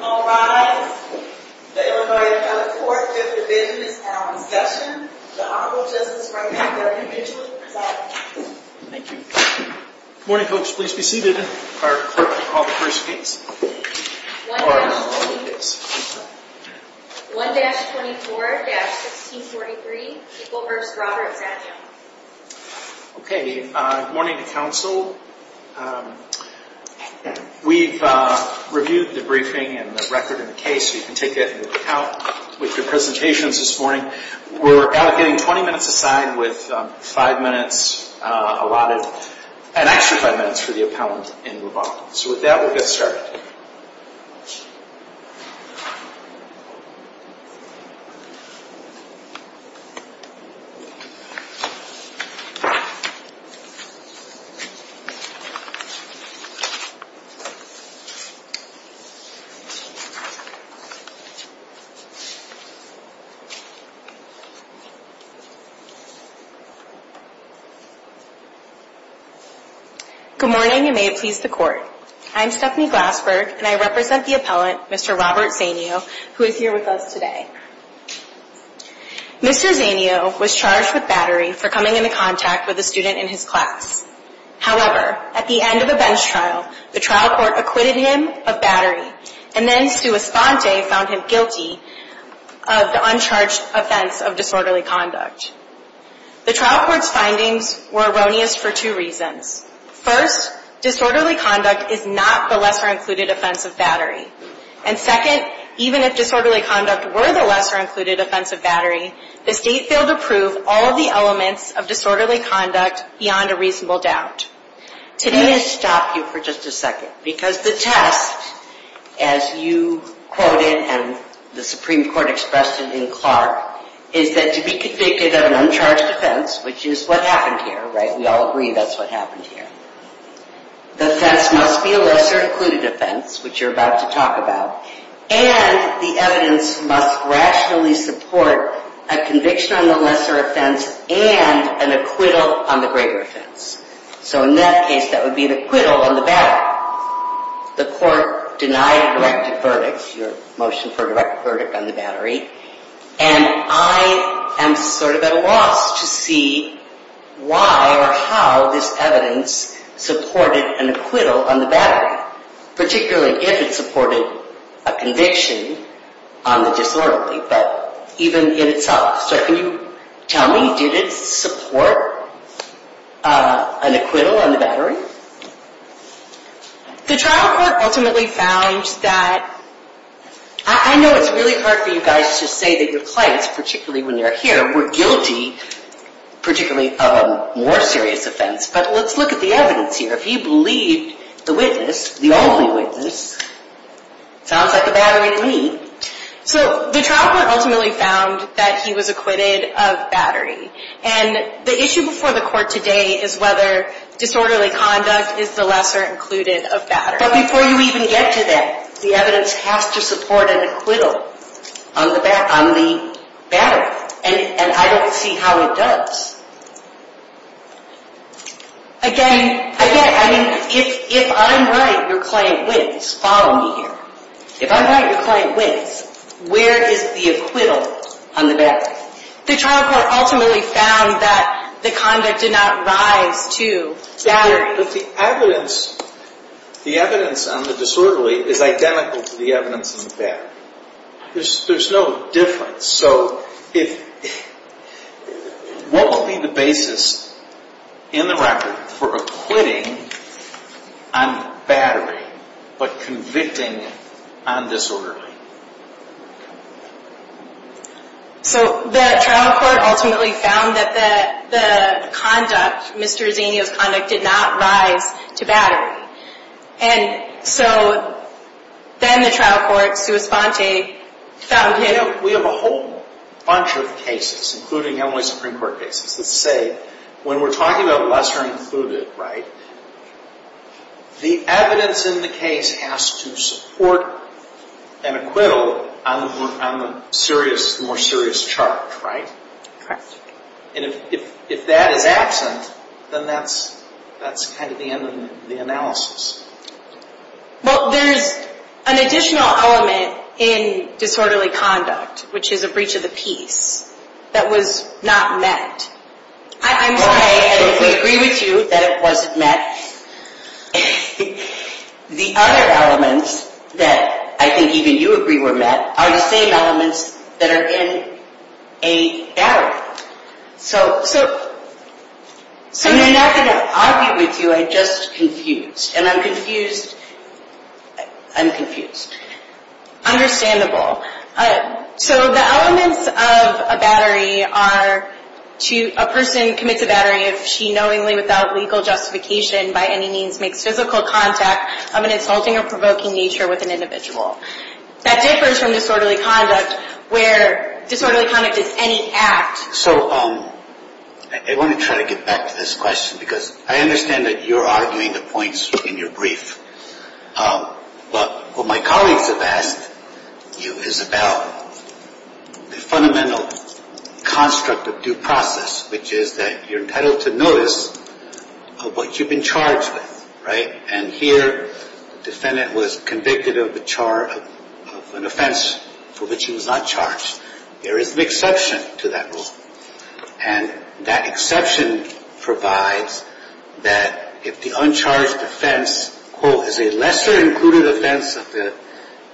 All rise. The Illinois Appellate Court is in business now in session. The Honorable Justice Raymond W. Mitchell is presiding. Thank you. Good morning, folks. Please be seated. Our clerk will call the first case. 1-24-1643, People v. Robert Zanio Okay. Good morning to counsel. We've reviewed the briefing and the record of the case. You can take that and look it out with your presentations this morning. We're allocating 20 minutes aside with 5 minutes allotted, an extra 5 minutes for the appellant in rebuttal. So with that, we'll get started. Good morning, and may it please the Court. I'm Stephanie Glassberg, and I represent the appellant, Mr. Robert Zanio, who is here with us today. Mr. Zanio was charged with battery for coming into contact with a student in his class. However, at the end of a bench trial, the trial court acquitted him of battery, and then Sua Sponte found him guilty of the uncharged offense of disorderly conduct. The trial court's findings were erroneous for two reasons. First, disorderly conduct is not the lesser-included offense of battery. And second, even if disorderly conduct were the lesser-included offense of battery, the State failed to prove all of the elements of disorderly conduct beyond a reasonable doubt. Let me stop you for just a second. Because the test, as you quoted and the Supreme Court expressed it in Clark, is that to be convicted of an uncharged offense, which is what happened here, right? We all agree that's what happened here. The offense must be a lesser-included offense, which you're about to talk about. And the evidence must rationally support a conviction on the lesser offense and an acquittal on the greater offense. So in that case, that would be an acquittal on the battery. The court denied direct verdicts, your motion for a direct verdict on the battery. And I am sort of at a loss to see why or how this evidence supported an acquittal on the battery. Particularly if it supported a conviction on the disorderly, but even in itself. So can you tell me, did it support an acquittal on the battery? The trial court ultimately found that... I know it's really hard for you guys to say that your clients, particularly when you're here, were guilty, particularly of a more serious offense. But let's look at the evidence here. If you believe the witness, the only witness, sounds like a battery to me. So the trial court ultimately found that he was acquitted of battery. And the issue before the court today is whether disorderly conduct is the lesser included of battery. But before you even get to that, the evidence has to support an acquittal on the battery. And I don't see how it does. Again, if I'm right, your client wins. Follow me here. If I'm right, your client wins. Where is the acquittal on the battery? The trial court ultimately found that the conduct did not rise to battery. But the evidence on the disorderly is identical to the evidence on the battery. There's no difference. So what would be the basis in the record for acquitting on battery, but convicting on disorderly? So the trial court ultimately found that the conduct, Mr. Zinio's conduct, did not rise to battery. And so then the trial court, sua sponte, found him. We have a whole bunch of cases, including only Supreme Court cases, that say when we're talking about lesser included, right, the evidence in the case has to support an acquittal on the more serious charge, right? Correct. And if that is absent, then that's kind of the end of the analysis. Well, there's an additional element in disorderly conduct, which is a breach of the peace, that was not met. I'm sorry. Okay, and we agree with you that it wasn't met. The other elements that I think even you agree were met are the same elements that are in a battery. So I'm not going to argue with you. I'm just confused, and I'm confused. I'm confused. Understandable. So the elements of a battery are a person commits a battery if she knowingly, without legal justification by any means, makes physical contact of an insulting or provoking nature with an individual. That differs from disorderly conduct, where disorderly conduct is any act. So I want to try to get back to this question, because I understand that you're arguing the points in your brief. But what my colleagues have asked you is about the fundamental construct of due process, which is that you're entitled to notice of what you've been charged with, right? And here the defendant was convicted of an offense for which he was not charged. There is an exception to that rule. And that exception provides that if the uncharged offense, quote, is a lesser-included offense of the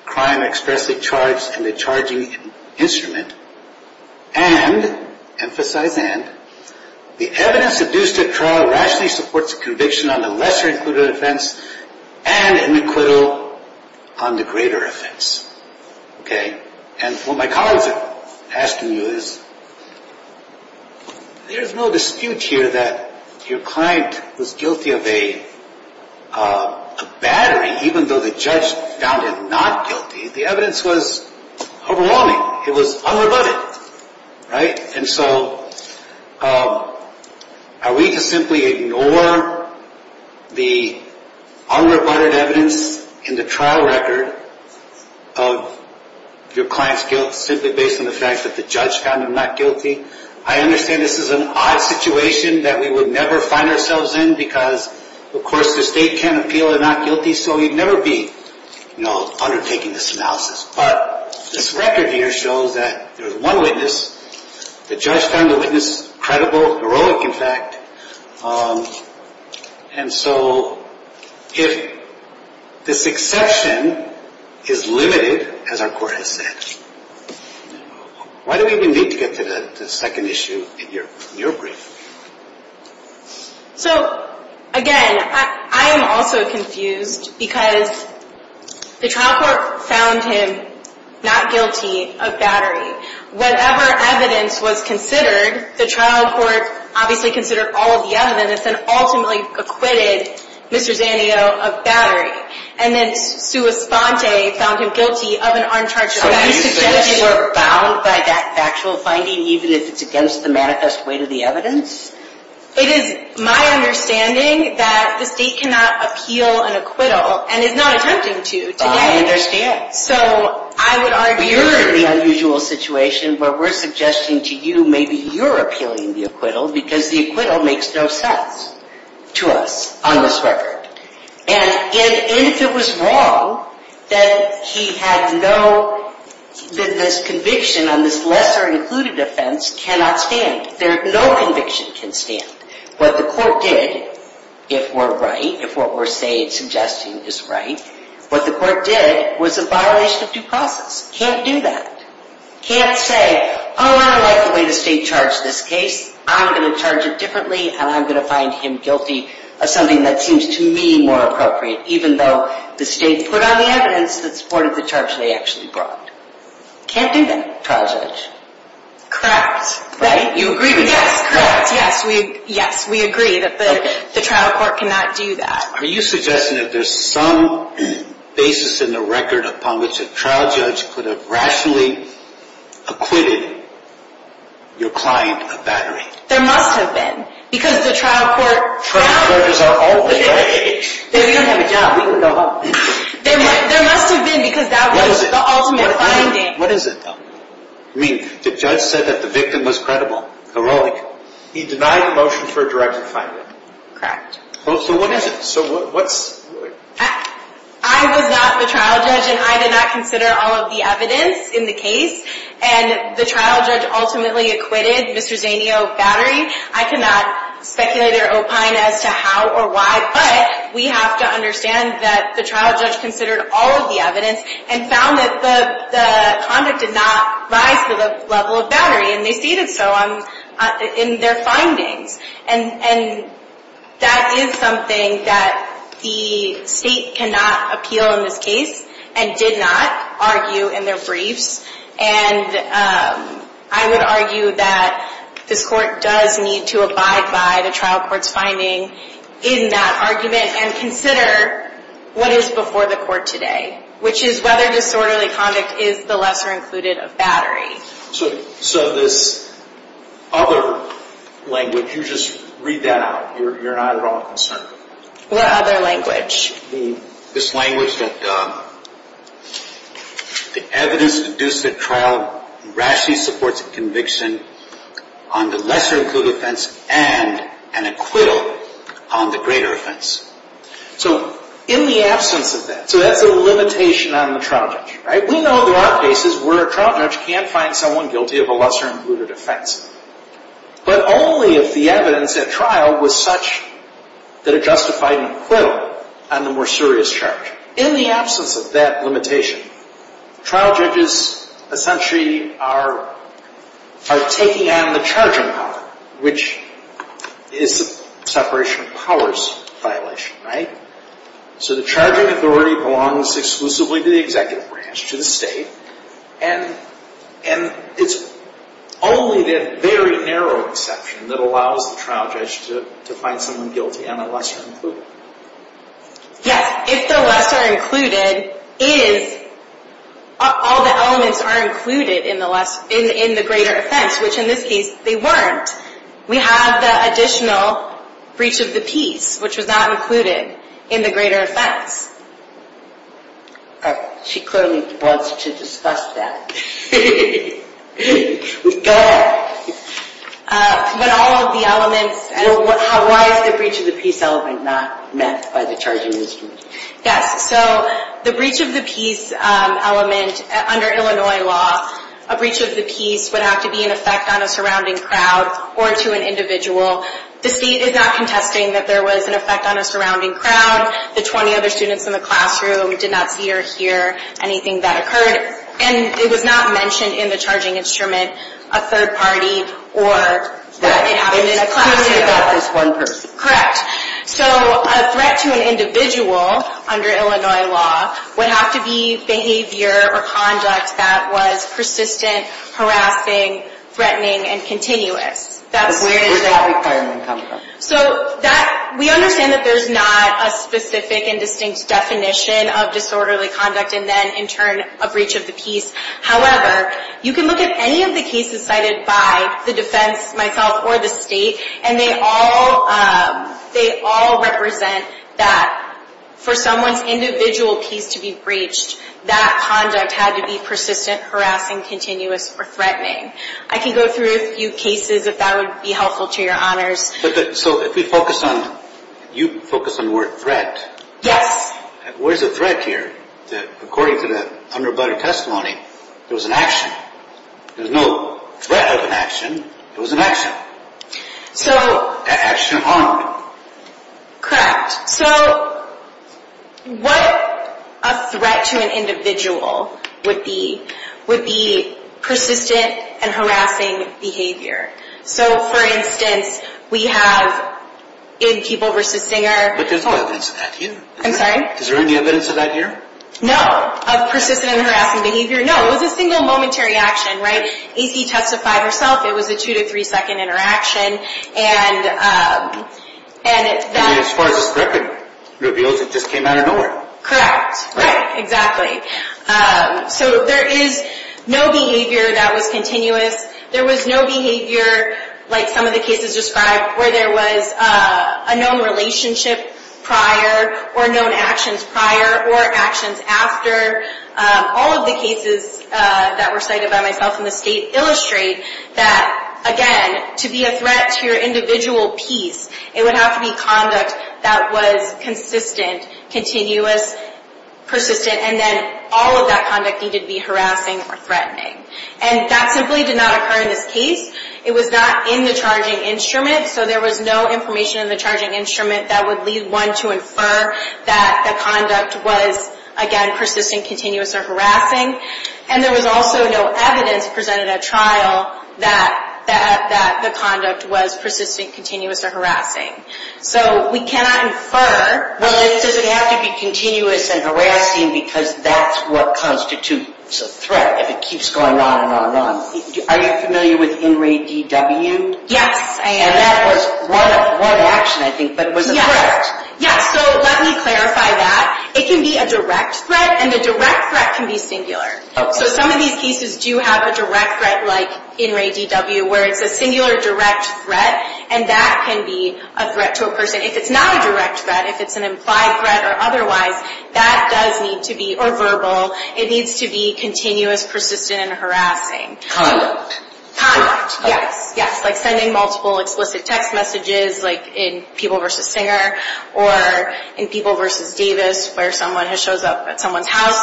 crime expressly charged in the charging instrument, and emphasize and, the evidence adduced at trial rationally supports a conviction on the lesser-included offense and an acquittal on the greater offense. And what my colleagues have asked me is, there's no dispute here that your client was guilty of a battery, even though the judge found it not guilty. The evidence was overwhelming. It was unrebutted, right? And so are we to simply ignore the unrebutted evidence in the trial record of your client's guilt simply based on the fact that the judge found him not guilty? I understand this is an odd situation that we would never find ourselves in, because, of course, the state can't appeal a not guilty, so we'd never be undertaking this analysis. But this record here shows that there's one witness. The judge found the witness credible, heroic, in fact. And so if this exception is limited, as our court has said, why do we even need to get to the second issue in your brief? So, again, I am also confused, because the trial court found him not guilty of battery. Whatever evidence was considered, the trial court obviously considered all of the evidence and ultimately acquitted Mr. Zanio of battery. And then Sue Esponte found him guilty of an uncharged battery. So are you suggesting we're bound by that factual finding, even if it's against the manifest weight of the evidence? It is my understanding that the state cannot appeal an acquittal and is not attempting to today. I understand. So I would argue... You're in the unusual situation where we're suggesting to you maybe you're appealing the acquittal, because the acquittal makes no sense to us on this record. And if it was wrong, then he had no... This conviction on this lesser-included offense cannot stand. No conviction can stand. What the court did, if we're right, if what we're suggesting is right, what the court did was a violation of due process. Can't do that. Can't say, oh, I like the way the state charged this case. I'm going to charge it differently, and I'm going to find him guilty of something that seems to me more appropriate, even though the state put on the evidence that supported the charge they actually brought. Can't do that, trial judge. Correct. Right? You agree with that? Yes, correct. Yes, we agree that the trial court cannot do that. Are you suggesting that there's some basis in the record upon which a trial judge could have rationally acquitted your client of battery? There must have been, because the trial court found... Trial judges are all the rage. We don't have a job. We don't know how. There must have been, because that was the ultimate finding. What is it, though? I mean, the judge said that the victim was credible, heroic. He denied the motion for a direct defendant. Correct. So what is it? So what's... I was not the trial judge, and I did not consider all of the evidence in the case. And the trial judge ultimately acquitted Mr. Zanio of battery. I cannot speculate or opine as to how or why, but we have to understand that the trial judge considered all of the evidence and found that the conduct did not rise to the level of battery, and they stated so in their findings. And that is something that the state cannot appeal in this case and did not argue in their briefs. And I would argue that this court does need to abide by the trial court's finding in that argument and consider what is before the court today, which is whether disorderly conduct is the lesser included of battery. So this other language, you just read that out. You're not at all concerned. What other language? This language that the evidence deduced at trial rashly supports a conviction on the lesser included offense and an acquittal on the greater offense. So in the absence of that, so that's a limitation on the trial judge, right? We know there are cases where a trial judge can't find someone guilty of a lesser included offense, but only if the evidence at trial was such that it justified an acquittal on the more serious charge. In the absence of that limitation, trial judges essentially are taking on the charging power, which is the separation of powers violation, right? So the charging authority belongs exclusively to the executive branch, to the state, and it's only that very narrow exception that allows the trial judge to find someone guilty on the lesser included. Yes, if the lesser included is all the elements are included in the greater offense, which in this case they weren't. We have the additional breach of the peace, which was not included in the greater offense. She clearly wants to discuss that. Go ahead. But all of the elements. Why is the breach of the peace element not met by the charging authority? Yes, so the breach of the peace element under Illinois law, a breach of the peace would have to be an effect on a surrounding crowd or to an individual. The state is not contesting that there was an effect on a surrounding crowd. The 20 other students in the classroom did not see or hear anything that occurred, and it was not mentioned in the charging instrument, a third party or that it happened in a classroom. It's exclusive about this one person. Correct. So a threat to an individual under Illinois law would have to be behavior or conduct that was persistent, harassing, threatening, and continuous. Where did that requirement come from? So we understand that there's not a specific and distinct definition of disorderly conduct and then in turn a breach of the peace. However, you can look at any of the cases cited by the defense, myself, or the state, and they all represent that for someone's individual peace to be breached, that conduct had to be persistent, harassing, continuous, or threatening. I can go through a few cases if that would be helpful to your honors. So if we focus on, you focus on the word threat. Yes. Where's the threat here? According to the underwriter testimony, there was an action. There's no threat of an action. It was an action. So. An action of honor. Correct. So what a threat to an individual would be, would be persistent and harassing behavior. So for instance, we have in People v. Singer. But there's no evidence of that here. I'm sorry? Is there any evidence of that here? No. Of persistent and harassing behavior. No, it was a single momentary action, right? AC testified herself it was a two to three second interaction. And that. As far as the script reveals, it just came out of nowhere. Correct. Right. Exactly. So there is no behavior that was continuous. There was no behavior like some of the cases described where there was a known relationship prior or known actions prior or actions after. All of the cases that were cited by myself in the state illustrate that, again, to be a threat to your individual peace, it would have to be conduct that was consistent, continuous, persistent. And then all of that conduct needed to be harassing or threatening. And that simply did not occur in this case. It was not in the charging instrument. So there was no information in the charging instrument that would lead one to infer that the conduct was, again, persistent, continuous, or harassing. And there was also no evidence presented at trial that the conduct was persistent, continuous, or harassing. So we cannot infer. Well, it doesn't have to be continuous and harassing because that's what constitutes a threat if it keeps going on and on and on. Are you familiar with in re D.W.? Yes, I am. And that was one action, I think, but it was a threat. Yes. Yes. So let me clarify that. It can be a direct threat, and a direct threat can be singular. Okay. So some of these cases do have a direct threat like in re D.W. where it's a singular direct threat, and that can be a threat to a person. If it's not a direct threat, if it's an implied threat or otherwise, that does need to be, or verbal, it needs to be continuous, persistent, and harassing. Conduct. Conduct, yes. Yes, like sending multiple explicit text messages like in People v. Singer or in People v. Davis where someone shows up at someone's house,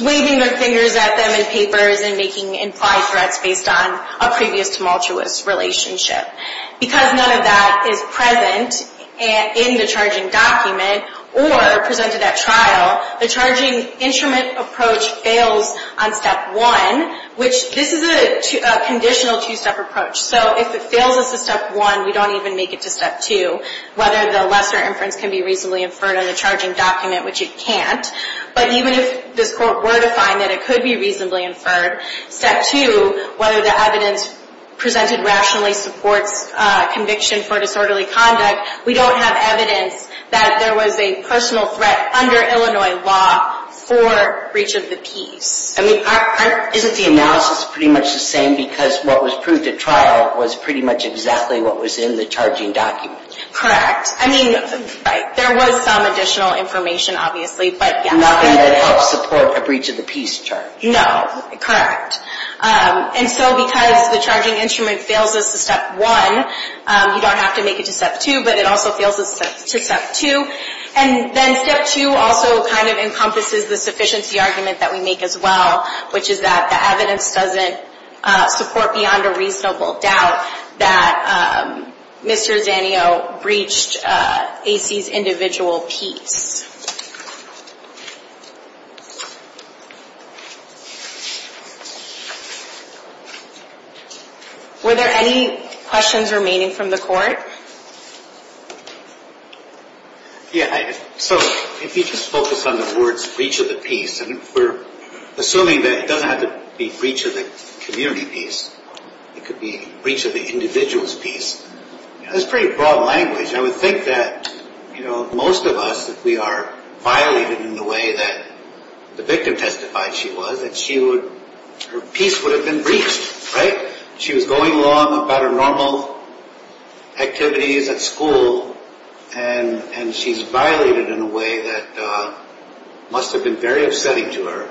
waving their fingers at them in papers and making implied threats based on a previous tumultuous relationship. Because none of that is present in the charging document or presented at trial, the charging instrument approach fails on Step 1, which this is a conditional two-step approach. So if it fails us to Step 1, we don't even make it to Step 2, whether the lesser inference can be reasonably inferred on the charging document, which it can't. But even if this court were to find that it could be reasonably inferred, Step 2, whether the evidence presented rationally supports conviction for disorderly conduct, we don't have evidence that there was a personal threat under Illinois law for breach of the peace. I mean, isn't the analysis pretty much the same because what was proved at trial was pretty much exactly what was in the charging document? Correct. I mean, right, there was some additional information, obviously, but yes. Nothing that helps support a breach of the peace charge. No, correct. And so because the charging instrument fails us to Step 1, you don't have to make it to Step 2, but it also fails us to Step 2. And then Step 2 also kind of encompasses the sufficiency argument that we make as well, which is that the evidence doesn't support beyond a reasonable doubt that Mr. Zanio breached AC's individual peace. Were there any questions remaining from the court? Yeah. So if you just focus on the words breach of the peace, and we're assuming that it doesn't have to be breach of the community peace. It could be breach of the individual's peace. That's pretty broad language. I would think that, you know, most of us, if we are violated in the way that the victim testified she was, that her peace would have been breached, right? She was going along about her normal activities at school, and she's violated in a way that must have been very upsetting to her,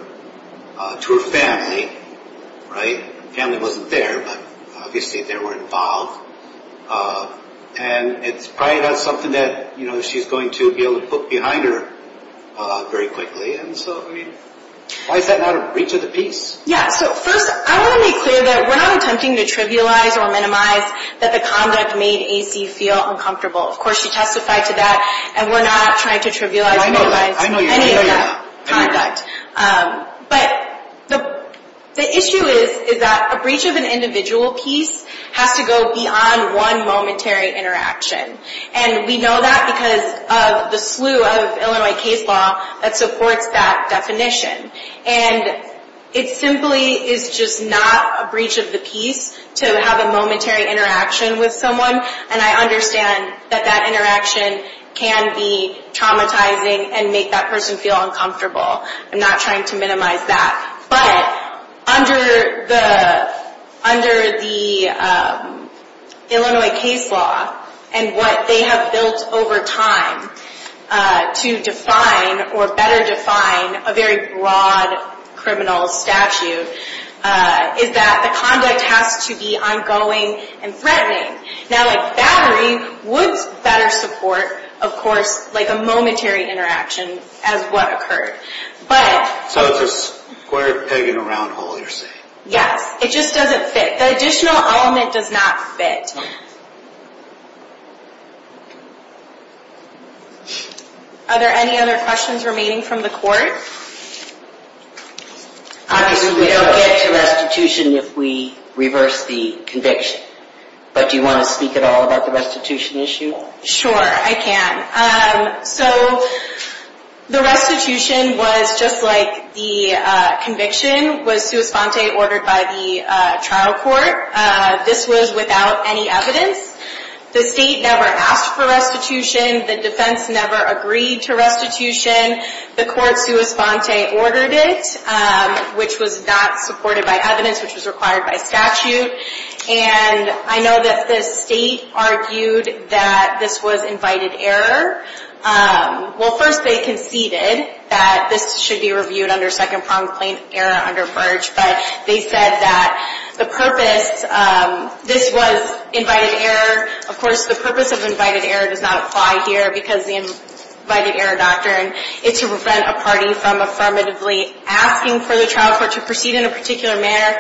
to her family, right? Family wasn't there, but obviously they were involved. And it's probably not something that, you know, she's going to be able to put behind her very quickly. And so, I mean, why is that not a breach of the peace? Yeah, so first, I want to make clear that we're not attempting to trivialize or minimize that the conduct made AC feel uncomfortable. Of course, she testified to that, and we're not trying to trivialize or minimize any of that conduct. But the issue is that a breach of an individual peace has to go beyond one momentary interaction. And we know that because of the slew of Illinois case law that supports that definition. And it simply is just not a breach of the peace to have a momentary interaction with someone. And I understand that that interaction can be traumatizing and make that person feel uncomfortable. I'm not trying to minimize that. But under the Illinois case law and what they have built over time to define or better define a very broad criminal statute, is that the conduct has to be ongoing and threatening. Now, like battery would better support, of course, like a momentary interaction as what occurred. So it's a square peg in a round hole, you're saying? Yes, it just doesn't fit. The additional element does not fit. Are there any other questions remaining from the court? Obviously, we don't get to restitution if we reverse the conviction. But do you want to speak at all about the restitution issue? Sure, I can. So the restitution was just like the conviction was sua sponte ordered by the trial court. This was without any evidence. The state never asked for restitution. The defense never agreed to restitution. The court sua sponte ordered it, which was not supported by evidence, which was required by statute. And I know that the state argued that this was invited error. Well, first they conceded that this should be reviewed under second prompt plain error under verge. But they said that the purpose, this was invited error. Of course, the purpose of invited error does not apply here because the invited error doctrine is to prevent a party from affirmatively asking for the trial court to proceed in a particular manner.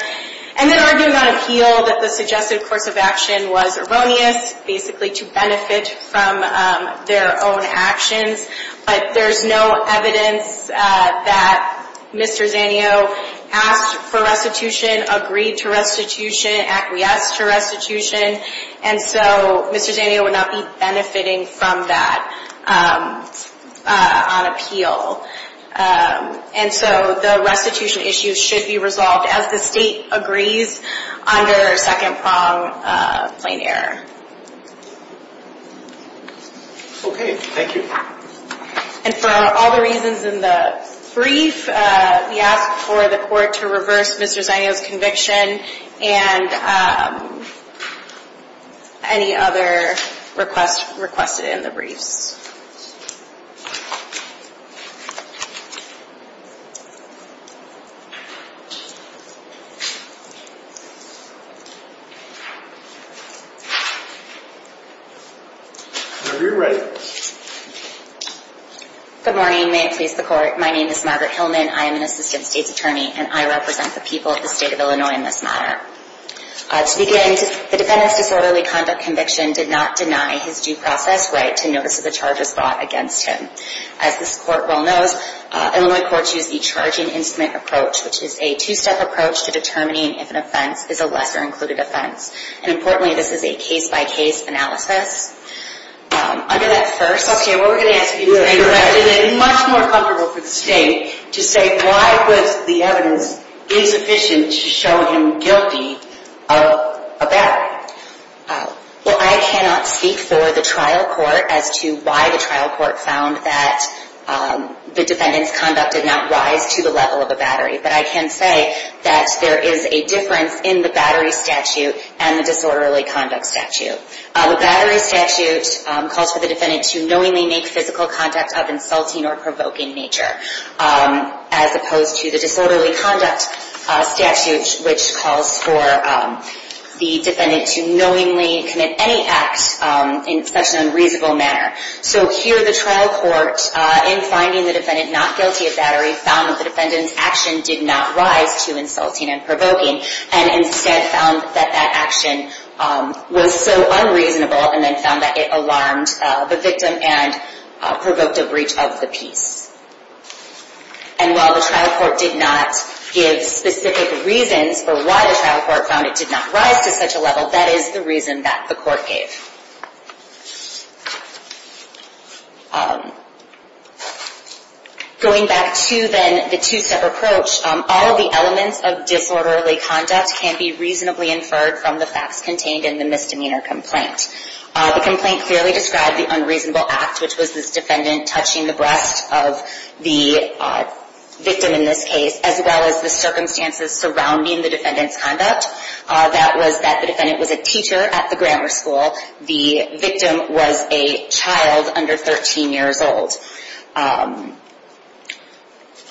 And then arguing on appeal that the suggested course of action was erroneous, basically to benefit from their own actions. But there's no evidence that Mr. Zanio asked for restitution, agreed to restitution, acquiesced to restitution. And so Mr. Zanio would not be benefiting from that on appeal. And so the restitution issue should be resolved as the state agrees under second prompt plain error. Thank you. And for all the reasons in the brief, we ask for the court to reverse Mr. Zanio's conviction and any other requests requested in the briefs. Whenever you're ready. Good morning. May it please the court. My name is Margaret Hillman. I am an assistant state's attorney, and I represent the people of the state of Illinois in this matter. To begin, the defendant's disorderly conduct conviction did not deny his due process right to notice of the charge of misconduct. As this court well knows, Illinois courts use the charging instrument approach, which is a two-step approach to determining if an offense is a lesser included offense. And importantly, this is a case-by-case analysis. Under that first. Okay, what we're going to ask you to do is make the defendant much more comfortable for the state to say why was the evidence insufficient to show him guilty of a battery. Well, I cannot speak for the trial court as to why the trial court found that the defendant's conduct did not rise to the level of a battery. But I can say that there is a difference in the battery statute and the disorderly conduct statute. The battery statute calls for the defendant to knowingly make physical conduct of insulting or provoking nature. As opposed to the disorderly conduct statute, which calls for the defendant to knowingly commit any act in such an unreasonable manner. So here the trial court, in finding the defendant not guilty of battery, found that the defendant's action did not rise to insulting and provoking. And instead found that that action was so unreasonable and then found that it alarmed the victim and provoked a breach of the peace. And while the trial court did not give specific reasons for why the trial court found it did not rise to such a level, that is the reason that the court gave. Going back to then the two-step approach, all of the elements of disorderly conduct can be reasonably inferred from the facts contained in the misdemeanor complaint. The complaint clearly described the unreasonable act, which was this defendant touching the breast of the victim in this case. As well as the circumstances surrounding the defendant's conduct. That was that the defendant was a teacher at the grammar school. The victim was a child under 13 years old.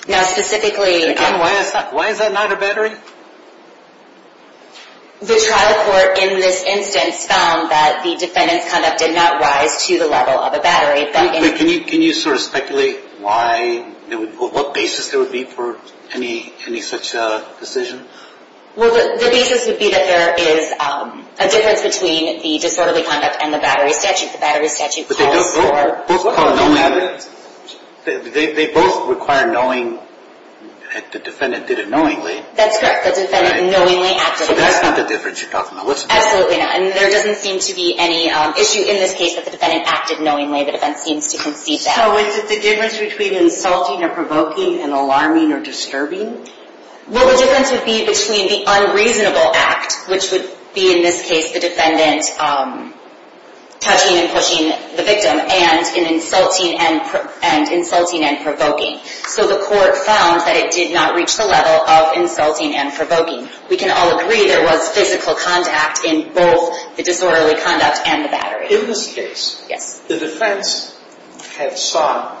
Now specifically... Why is that not a battery? The trial court in this instance found that the defendant's conduct did not rise to the level of a battery. Can you sort of speculate what basis there would be for any such decision? Well, the basis would be that there is a difference between the disorderly conduct and the battery statute. The battery statute calls for... They both require knowing that the defendant did it knowingly. That's correct. The defendant knowingly acted knowingly. So that's not the difference you're talking about. Absolutely not. And there doesn't seem to be any issue in this case that the defendant acted knowingly. The defense seems to concede that. So is it the difference between insulting or provoking and alarming or disturbing? Well, the difference would be between the unreasonable act, which would be in this case the defendant touching and pushing the victim, and insulting and provoking. So the court found that it did not reach the level of insulting and provoking. We can all agree there was physical contact in both the disorderly conduct and the battery. In this case, the defense had sought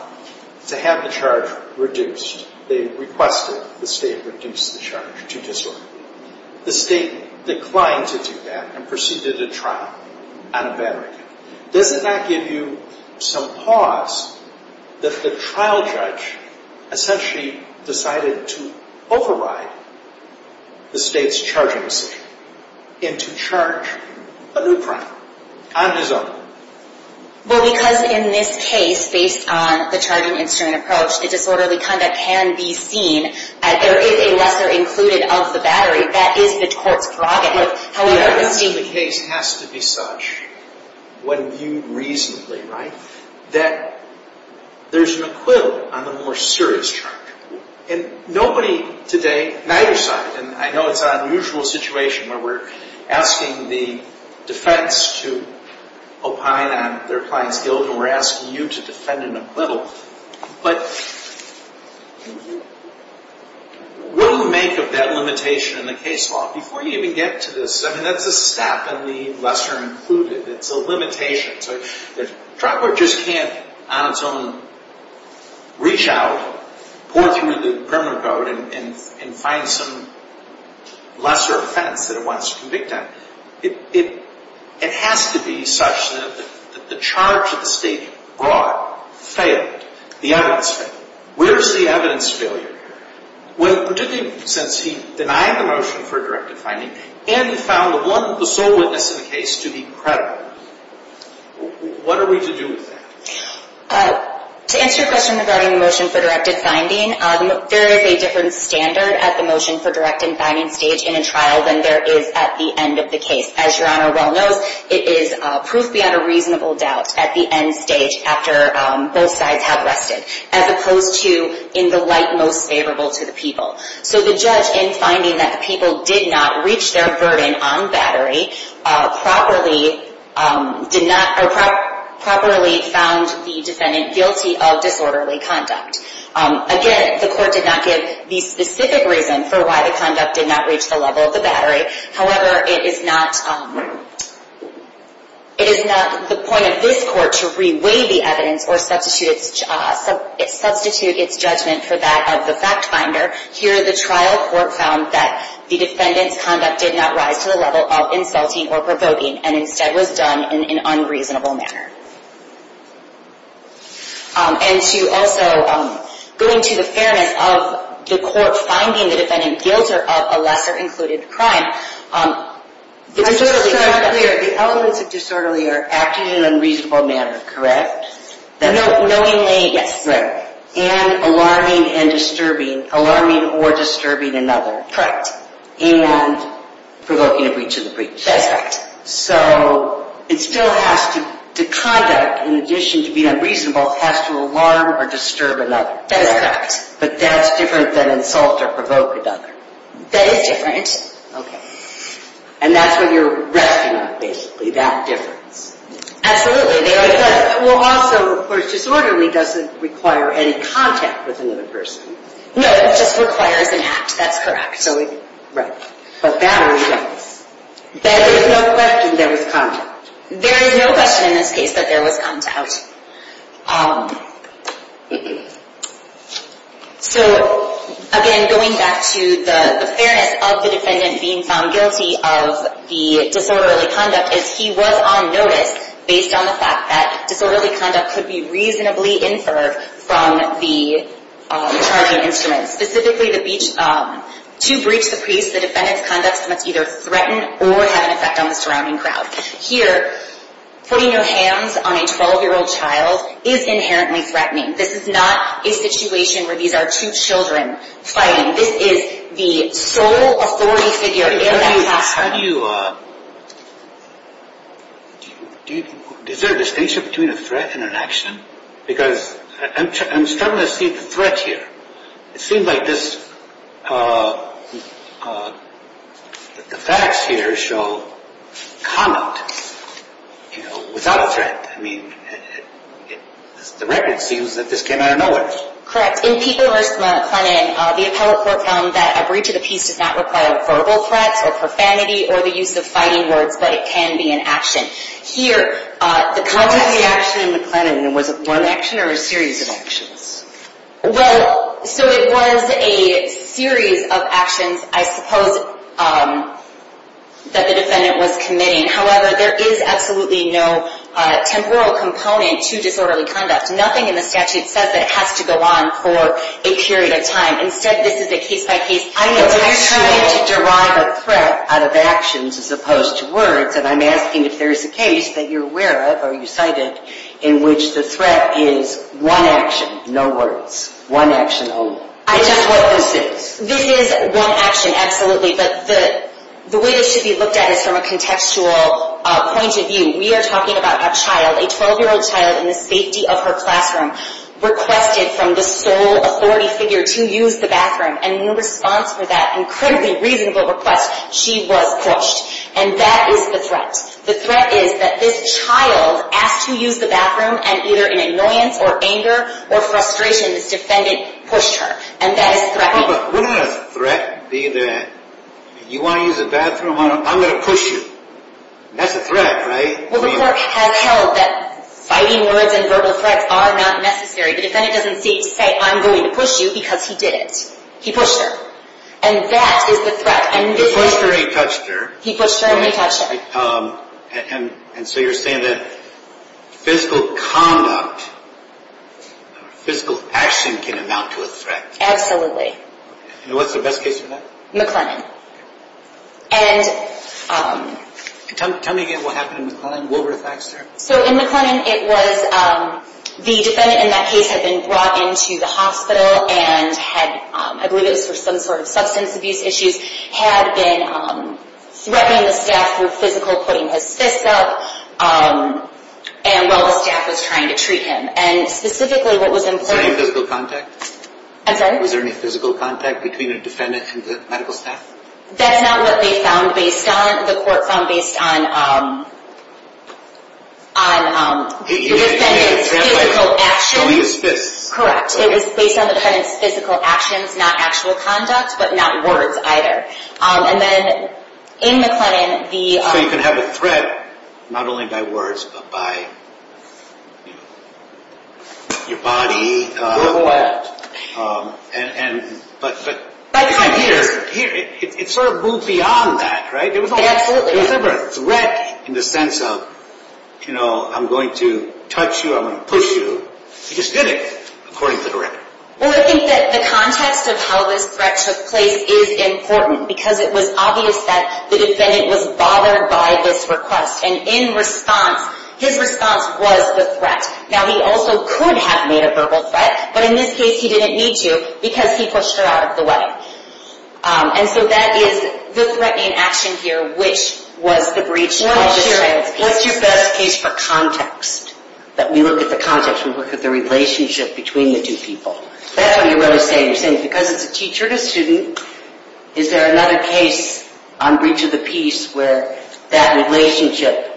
to have the charge reduced. They requested the state reduce the charge to disorderly conduct. The state declined to do that and proceeded to trial on a battery. Doesn't that give you some pause that the trial judge essentially decided to override the state's charging decision and to charge a new crime on his own? Well, because in this case, based on the charging instrument approach, the disorderly conduct can be seen. There is a lesser included of the battery. That is the court's prerogative. But the evidence in the case has to be such, when viewed reasonably, right, that there is an acquittal on the more serious charge. And nobody today, neither side, and I know it's an unusual situation where we're asking the defense to opine on their client's guilt and we're asking you to defend an acquittal. But what do we make of that limitation in the case law before you even get to this? I mean, that's a step in the lesser included. It's a limitation. So the trial court just can't, on its own, reach out, pour through the criminal code, and find some lesser offense that it wants to convict on. It has to be such that the charge that the state brought failed. The evidence failed. Where's the evidence failure? Well, particularly since he denied the motion for directive finding and he found the sole witness in the case to be credible. What are we to do with that? To answer your question regarding the motion for directive finding, there is a different standard at the motion for directive finding stage in a trial than there is at the end of the case. As Your Honor well knows, it is proof beyond a reasonable doubt at the end stage after both sides have rested, as opposed to in the light most favorable to the people. So the judge, in finding that the people did not reach their burden on battery, properly found the defendant guilty of disorderly conduct. Again, the court did not give the specific reason for why the conduct did not reach the level of the battery. However, it is not the point of this court to re-weigh the evidence or substitute its judgment for that of the fact finder. Here, the trial court found that the defendant's conduct did not rise to the level of insulting or provoking, and instead was done in an unreasonable manner. And to also, going to the fairness of the court finding the defendant guilty of a lesser included crime, disorderly conduct. The elements of disorderly are acting in an unreasonable manner, correct? Knowingly, yes. And alarming and disturbing, alarming or disturbing another. And provoking a breach of the breach. That's correct. So, it still has to, the conduct, in addition to being unreasonable, has to alarm or disturb another. That is correct. But that's different than insult or provoke another. That is different. Okay. And that's what you're resting on, basically, that difference. Absolutely. Well, also, of course, disorderly doesn't require any contact with another person. No, it just requires an act, that's correct. Right. But battery does. There is no question there was contact. There is no question in this case that there was contact. So, again, going back to the fairness of the defendant being found guilty of the disorderly conduct, is he was on notice based on the fact that disorderly conduct could be reasonably inferred from the charging instruments. Specifically, to breach the priest, the defendant's conduct must either threaten or have an effect on the surrounding crowd. Here, putting your hands on a 12-year-old child is inherently threatening. This is not a situation where these are two children fighting. This is the sole authority figure in that class. How do you, is there a distinction between a threat and an action? Because I'm starting to see the threat here. It seems like this, the facts here show conduct, you know, without a threat. I mean, the record seems that this came out of nowhere. Correct. In Piper vs. McLennan, the appellate court found that a breach of the peace does not require verbal threats or profanity or the use of fighting words, but it can be an action. Here, the context… What was the action in McLennan? Was it one action or a series of actions? Well, so it was a series of actions, I suppose, that the defendant was committing. However, there is absolutely no temporal component to disorderly conduct. Nothing in the statute says that it has to go on for a period of time. Instead, this is a case-by-case… I know, but you're trying to derive a threat out of actions as opposed to words, and I'm asking if there is a case that you're aware of or you cited in which the threat is one action, no words. One action only. This is what this is. This is one action, absolutely, but the way this should be looked at is from a contextual point of view. We are talking about a child, a 12-year-old child in the safety of her classroom, requested from the sole authority figure to use the bathroom, and in response for that incredibly reasonable request, she was pushed. And that is the threat. The threat is that this child asked to use the bathroom, and either in annoyance or anger or frustration, this defendant pushed her. And that is threatening. But wouldn't a threat be that you want to use the bathroom? I'm going to push you. That's a threat, right? Well, the court has held that fighting words and verbal threats are not necessary. The defendant doesn't say, I'm going to push you, because he did it. He pushed her. And that is the threat. The pusher, he touched her. He pushed her and he touched her. And so you're saying that physical conduct, physical action can amount to a threat. Absolutely. And what's the best case for that? McLennan. Tell me again what happened in McLennan. What were the facts there? So in McLennan, it was the defendant in that case had been brought into the hospital and had, I believe it was for some sort of substance abuse issues, had been threatening the staff with physical putting his fists up while the staff was trying to treat him. And specifically what was important. Was there any physical contact? I'm sorry? Was there any physical contact between the defendant and the medical staff? That's not what they found based on, the court found based on the defendant's physical action. Showing his fists. Correct. It was based on the defendant's physical actions, not actual conduct, but not words either. And then in McLennan, the... So you can have a threat not only by words, but by your body. Or... And... But... But... If I'm here... It sort of moved beyond that, right? It absolutely did. There was never a threat in the sense of, you know, I'm going to touch you, I'm going to push you. He just did it, according to the record. Well, I think that the context of how this threat took place is important, because it was obvious that the defendant was bothered by this request. And in response, his response was the threat. Now, he also could have made a verbal threat, but in this case he didn't need to, because he pushed her out of the way. And so that is the threat in action here, which was the breach... The relationship between the two people. That's what you're really saying. You're saying because it's a teacher and a student, is there another case on breach of the peace where that relationship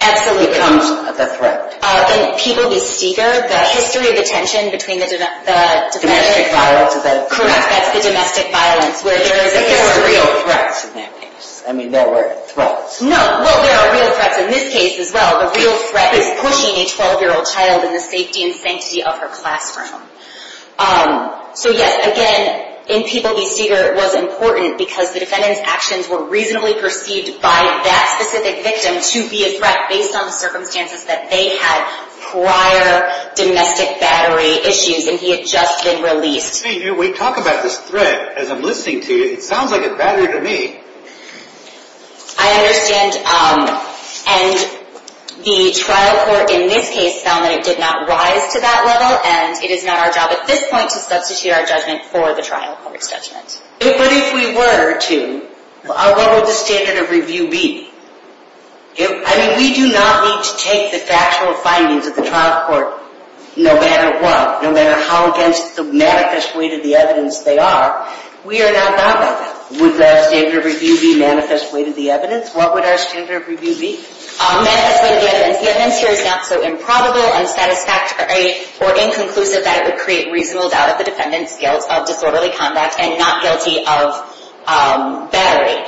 becomes a threat? In People v. Steger, the history of the tension between the... Domestic violence is that a threat? Correct, that's the domestic violence, where there is a history... But there are real threats in that case. I mean, there were threats. No. Well, there are real threats in this case as well. A real threat is pushing a 12-year-old child in the safety and sanctity of her classroom. So, yes, again, in People v. Steger it was important, because the defendant's actions were reasonably perceived by that specific victim to be a threat based on the circumstances that they had prior domestic battery issues, and he had just been released. We talk about this threat as I'm listening to you. It sounds like a battery to me. I understand. And the trial court in this case found that it did not rise to that level, and it is not our job at this point to substitute our judgment for the trial court's judgment. But if we were to, what would the standard of review be? I mean, we do not need to take the factual findings of the trial court no matter what, no matter how against the maddicest weight of the evidence they are. We are not bound by that. Would that standard of review be manifest way to the evidence? What would our standard of review be? Manifest way to the evidence. The evidence here is not so improbable, unsatisfactory, or inconclusive that it would create reasonable doubt of the defendant's guilt of disorderly conduct and not guilty of battery.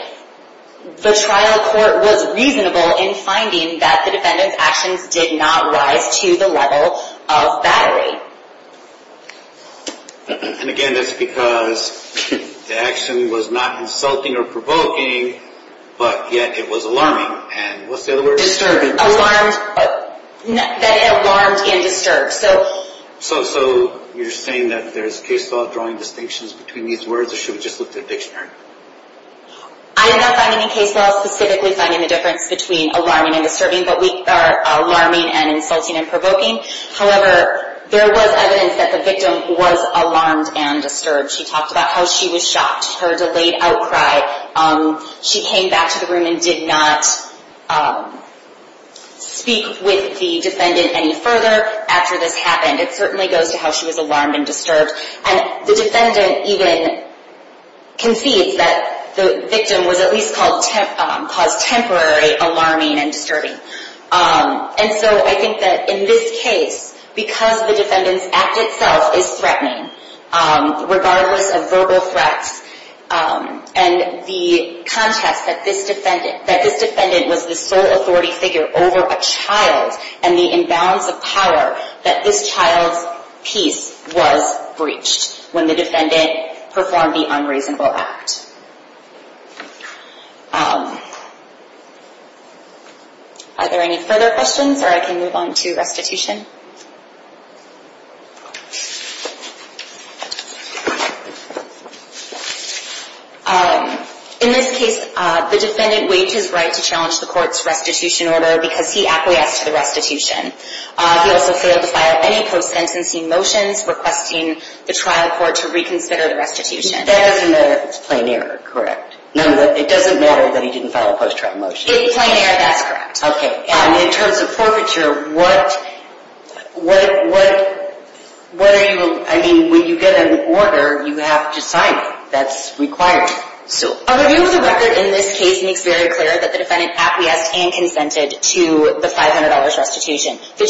The trial court was reasonable in finding that the defendant's actions did not rise to the level of battery. And again, that's because the action was not insulting or provoking, but yet it was alarming. And what's the other word? Disturbing. That it alarmed and disturbed. So you're saying that there's case law drawing distinctions between these words, or should we just look at the dictionary? I am not finding any case law specifically finding the difference between alarming and disturbing, but we are alarming and insulting and provoking. However, there was evidence that the victim was alarmed and disturbed. She talked about how she was shocked, her delayed outcry. She came back to the room and did not speak with the defendant any further after this happened. It certainly goes to how she was alarmed and disturbed. And the defendant even concedes that the victim was at least caused temporary alarming and disturbing. And so I think that in this case, because the defendant's act itself is threatening, regardless of verbal threats, and the context that this defendant was the sole authority figure over a child and the imbalance of power, that this child's peace was breached when the defendant performed the unreasonable act. Are there any further questions, or I can move on to restitution? In this case, the defendant waived his right to challenge the court's restitution order because he acquiesced to the restitution. He also failed to file any post-sentencing motions, requesting the trial court to reconsider the restitution. That doesn't matter if it's plain error, correct? It doesn't matter that he didn't file a post-trial motion? If it's plain error, that's correct. And in terms of forfeiture, when you get an order, you have to sign it. That's required. A review of the record in this case makes very clear that the defendant acquiesced and consented to the $500 restitution. The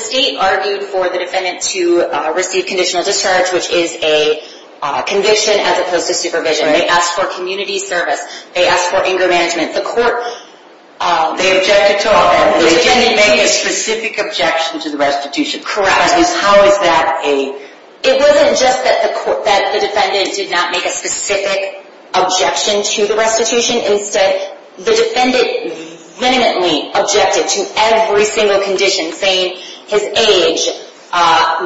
state argued for the defendant to receive conditional discharge, which is a conviction as opposed to supervision. They asked for community service. They asked for anger management. The court… They objected to all that. The defendant made a specific objection to the restitution. Correct. How is that a… It wasn't just that the defendant did not make a specific objection to the restitution. Instead, the defendant vehemently objected to every single condition, saying his age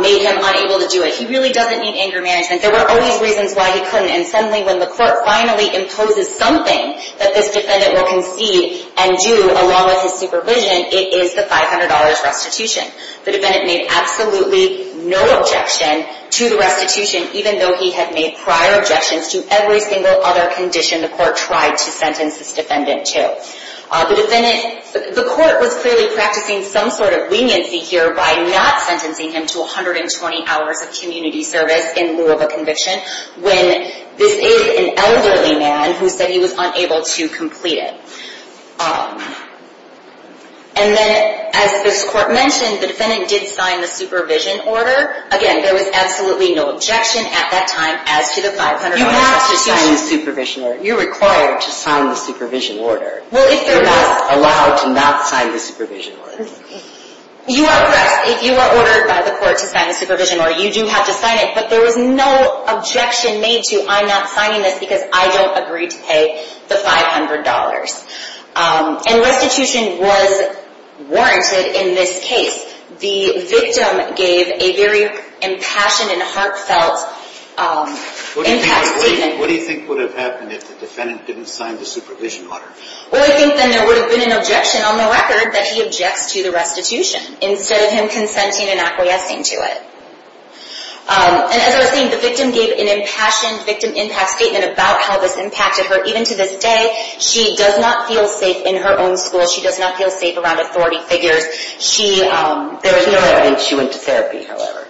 made him unable to do it. He really doesn't need anger management. There were always reasons why he couldn't, and suddenly when the court finally imposes something that this defendant will concede and do along with his supervision, it is the $500 restitution. The defendant made absolutely no objection to the restitution, even though he had made prior objections to every single other condition the court tried to sentence this defendant to. The defendant… The court was clearly practicing some sort of leniency here by not sentencing him to 120 hours of community service in lieu of a conviction when this is an elderly man who said he was unable to complete it. And then, as this court mentioned, the defendant did sign the supervision order. Again, there was absolutely no objection at that time as to the $500 restitution. You're not signing the supervision order. You're required to sign the supervision order. Well, if there was… You're not allowed to not sign the supervision order. You are oppressed if you are ordered by the court to sign the supervision order. You do have to sign it, but there was no objection made to, I'm not signing this because I don't agree to pay the $500. And restitution was warranted in this case. The victim gave a very impassioned and heartfelt impact statement. What do you think would have happened if the defendant didn't sign the supervision order? Well, I think then there would have been an objection on the record that he objects to the restitution instead of him consenting and acquiescing to it. And as I was saying, the victim gave an impassioned victim impact statement about how this impacted her. Even to this day, she does not feel safe in her own school. She does not feel safe around authority figures. There was no evidence she went to therapy, however.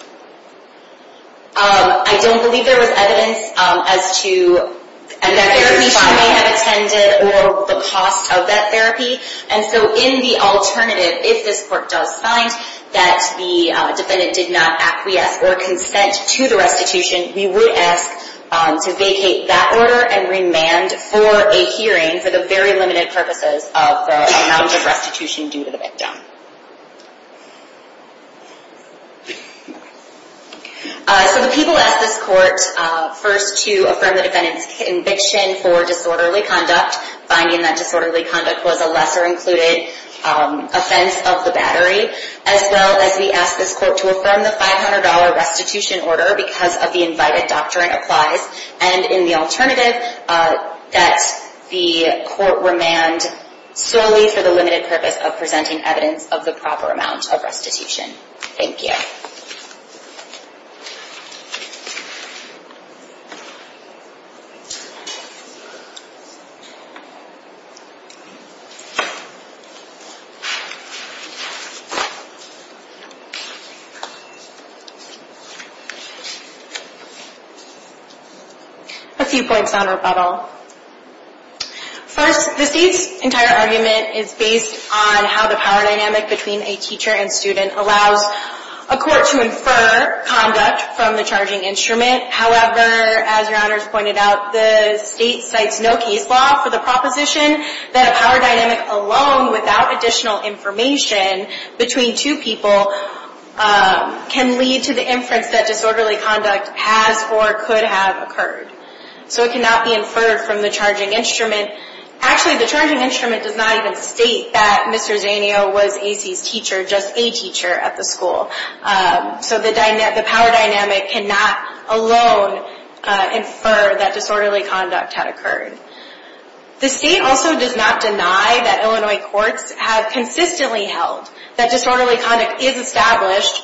I don't believe there was evidence as to the therapy she may have attended or the cost of that therapy. And so in the alternative, if this court does find that the defendant did not acquiesce or consent to the restitution, we would ask to vacate that order and remand for a hearing for the very limited purposes of the amount of restitution due to the victim. So the people asked this court first to affirm the defendant's conviction for disorderly conduct, finding that disorderly conduct was a lesser-included offense of the battery, as well as we asked this court to affirm the $500 restitution order because of the invited doctrine applies. And in the alternative, that the court remand solely for the limited purpose of presenting evidence of the proper amount of restitution. Thank you. A few points on rebuttal. First, the state's entire argument is based on how the power dynamic between a teacher and student allows a court to infer conduct from the charging instrument. However, as your honors pointed out, the state cites no case law for the proposition that a power dynamic alone without additional information between two people can lead to the inference that disorderly conduct has or could have occurred. So it cannot be inferred from the charging instrument. Actually, the charging instrument does not even state that Mr. Zanio was AC's teacher, just a teacher at the school. So the power dynamic cannot alone infer that disorderly conduct had occurred. The state also does not deny that Illinois courts have consistently held that disorderly conduct is established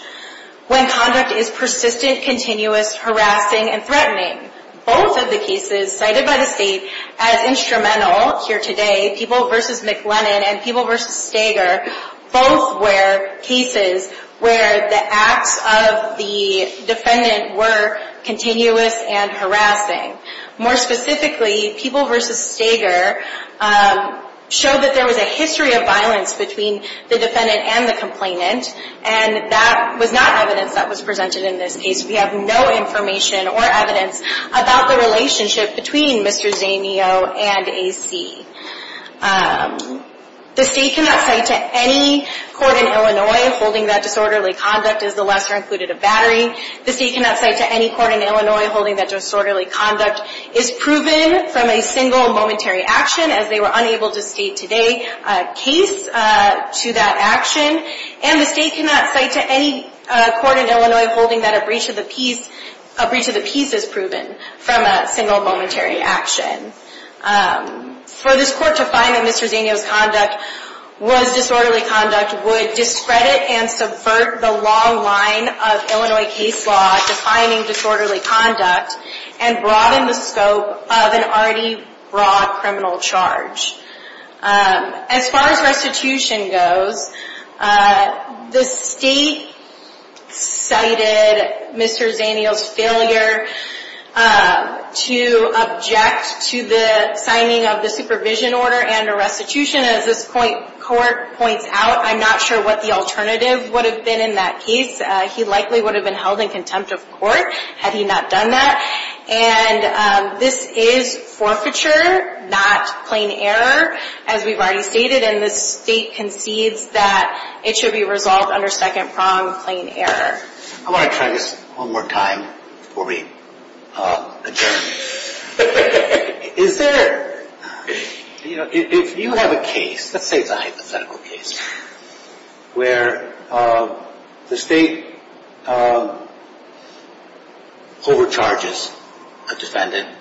when conduct is persistent, continuous, harassing, and threatening. Both of the cases cited by the state as instrumental here today, People v. McLennan and People v. Stager, both were cases where the acts of the defendant were continuous and harassing. More specifically, People v. Stager showed that there was a history of violence between the defendant and the complainant, and that was not evidence that was presented in this case. We have no information or evidence about the relationship between Mr. Zanio and AC. The state cannot cite to any court in Illinois holding that disorderly conduct is the lesser included of battery. The state cannot cite to any court in Illinois holding that disorderly conduct is proven from a single momentary action, as they were unable to state today, a case to that action. And the state cannot cite to any court in Illinois holding that a breach of the peace is proven from a single momentary action. For this court to find that Mr. Zanio's conduct was disorderly conduct would discredit and subvert the long line of Illinois case law defining disorderly conduct and broaden the scope of an already broad criminal charge. As far as restitution goes, the state cited Mr. Zanio's failure to object to the signing of the supervision order and a restitution. As this court points out, I'm not sure what the alternative would have been in that case. He likely would have been held in contempt of court had he not done that. And this is forfeiture, not plain error, as we've already stated. And the state concedes that it should be resolved under second prong plain error. I want to try this one more time before we adjourn. Is there, you know, if you have a case, let's say it's a hypothetical case, where the state overcharges a defendant.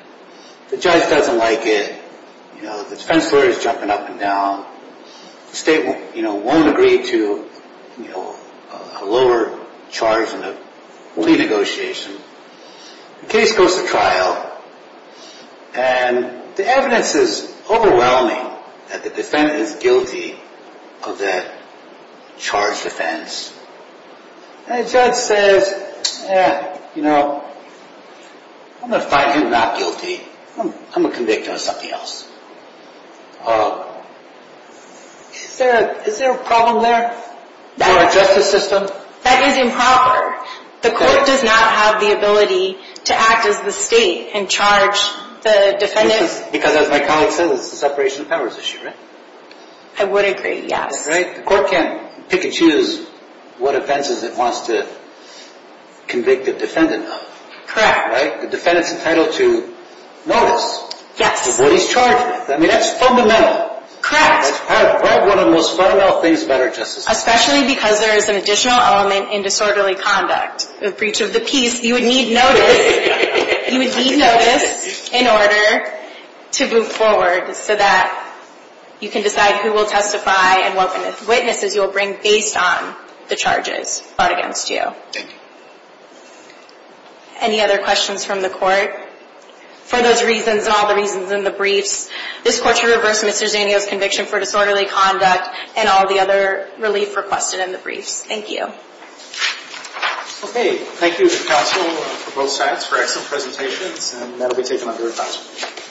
The judge doesn't like it. You know, the defense lawyer is jumping up and down. The state, you know, won't agree to, you know, a lower charge in a plea negotiation. The case goes to trial, and the evidence is overwhelming that the defendant is guilty of that charged offense. And the judge says, you know, I'm going to find him not guilty. I'm going to convict him of something else. Is there a problem there in our justice system? That is improper. The court does not have the ability to act as the state and charge the defendant. Because as my colleague says, it's a separation of powers issue, right? I would agree, yes. The court can't pick and choose what offenses it wants to convict a defendant of. Correct. Right? The defendant's entitled to notice of what he's charged with. I mean, that's fundamental. Correct. That's one of the most fundamental things about our justice system. Especially because there is an additional element in disorderly conduct. The breach of the peace, you would need notice. You would need notice in order to move forward so that you can decide who will testify and what witnesses you will bring based on the charges brought against you. Thank you. Any other questions from the court? For those reasons and all the reasons in the briefs, this court should reverse Mr. Zanio's conviction for disorderly conduct and all the other relief requested in the briefs. Thank you. Okay. Thank you to counsel for both sides for excellent presentations. And that will be taken up during counsel.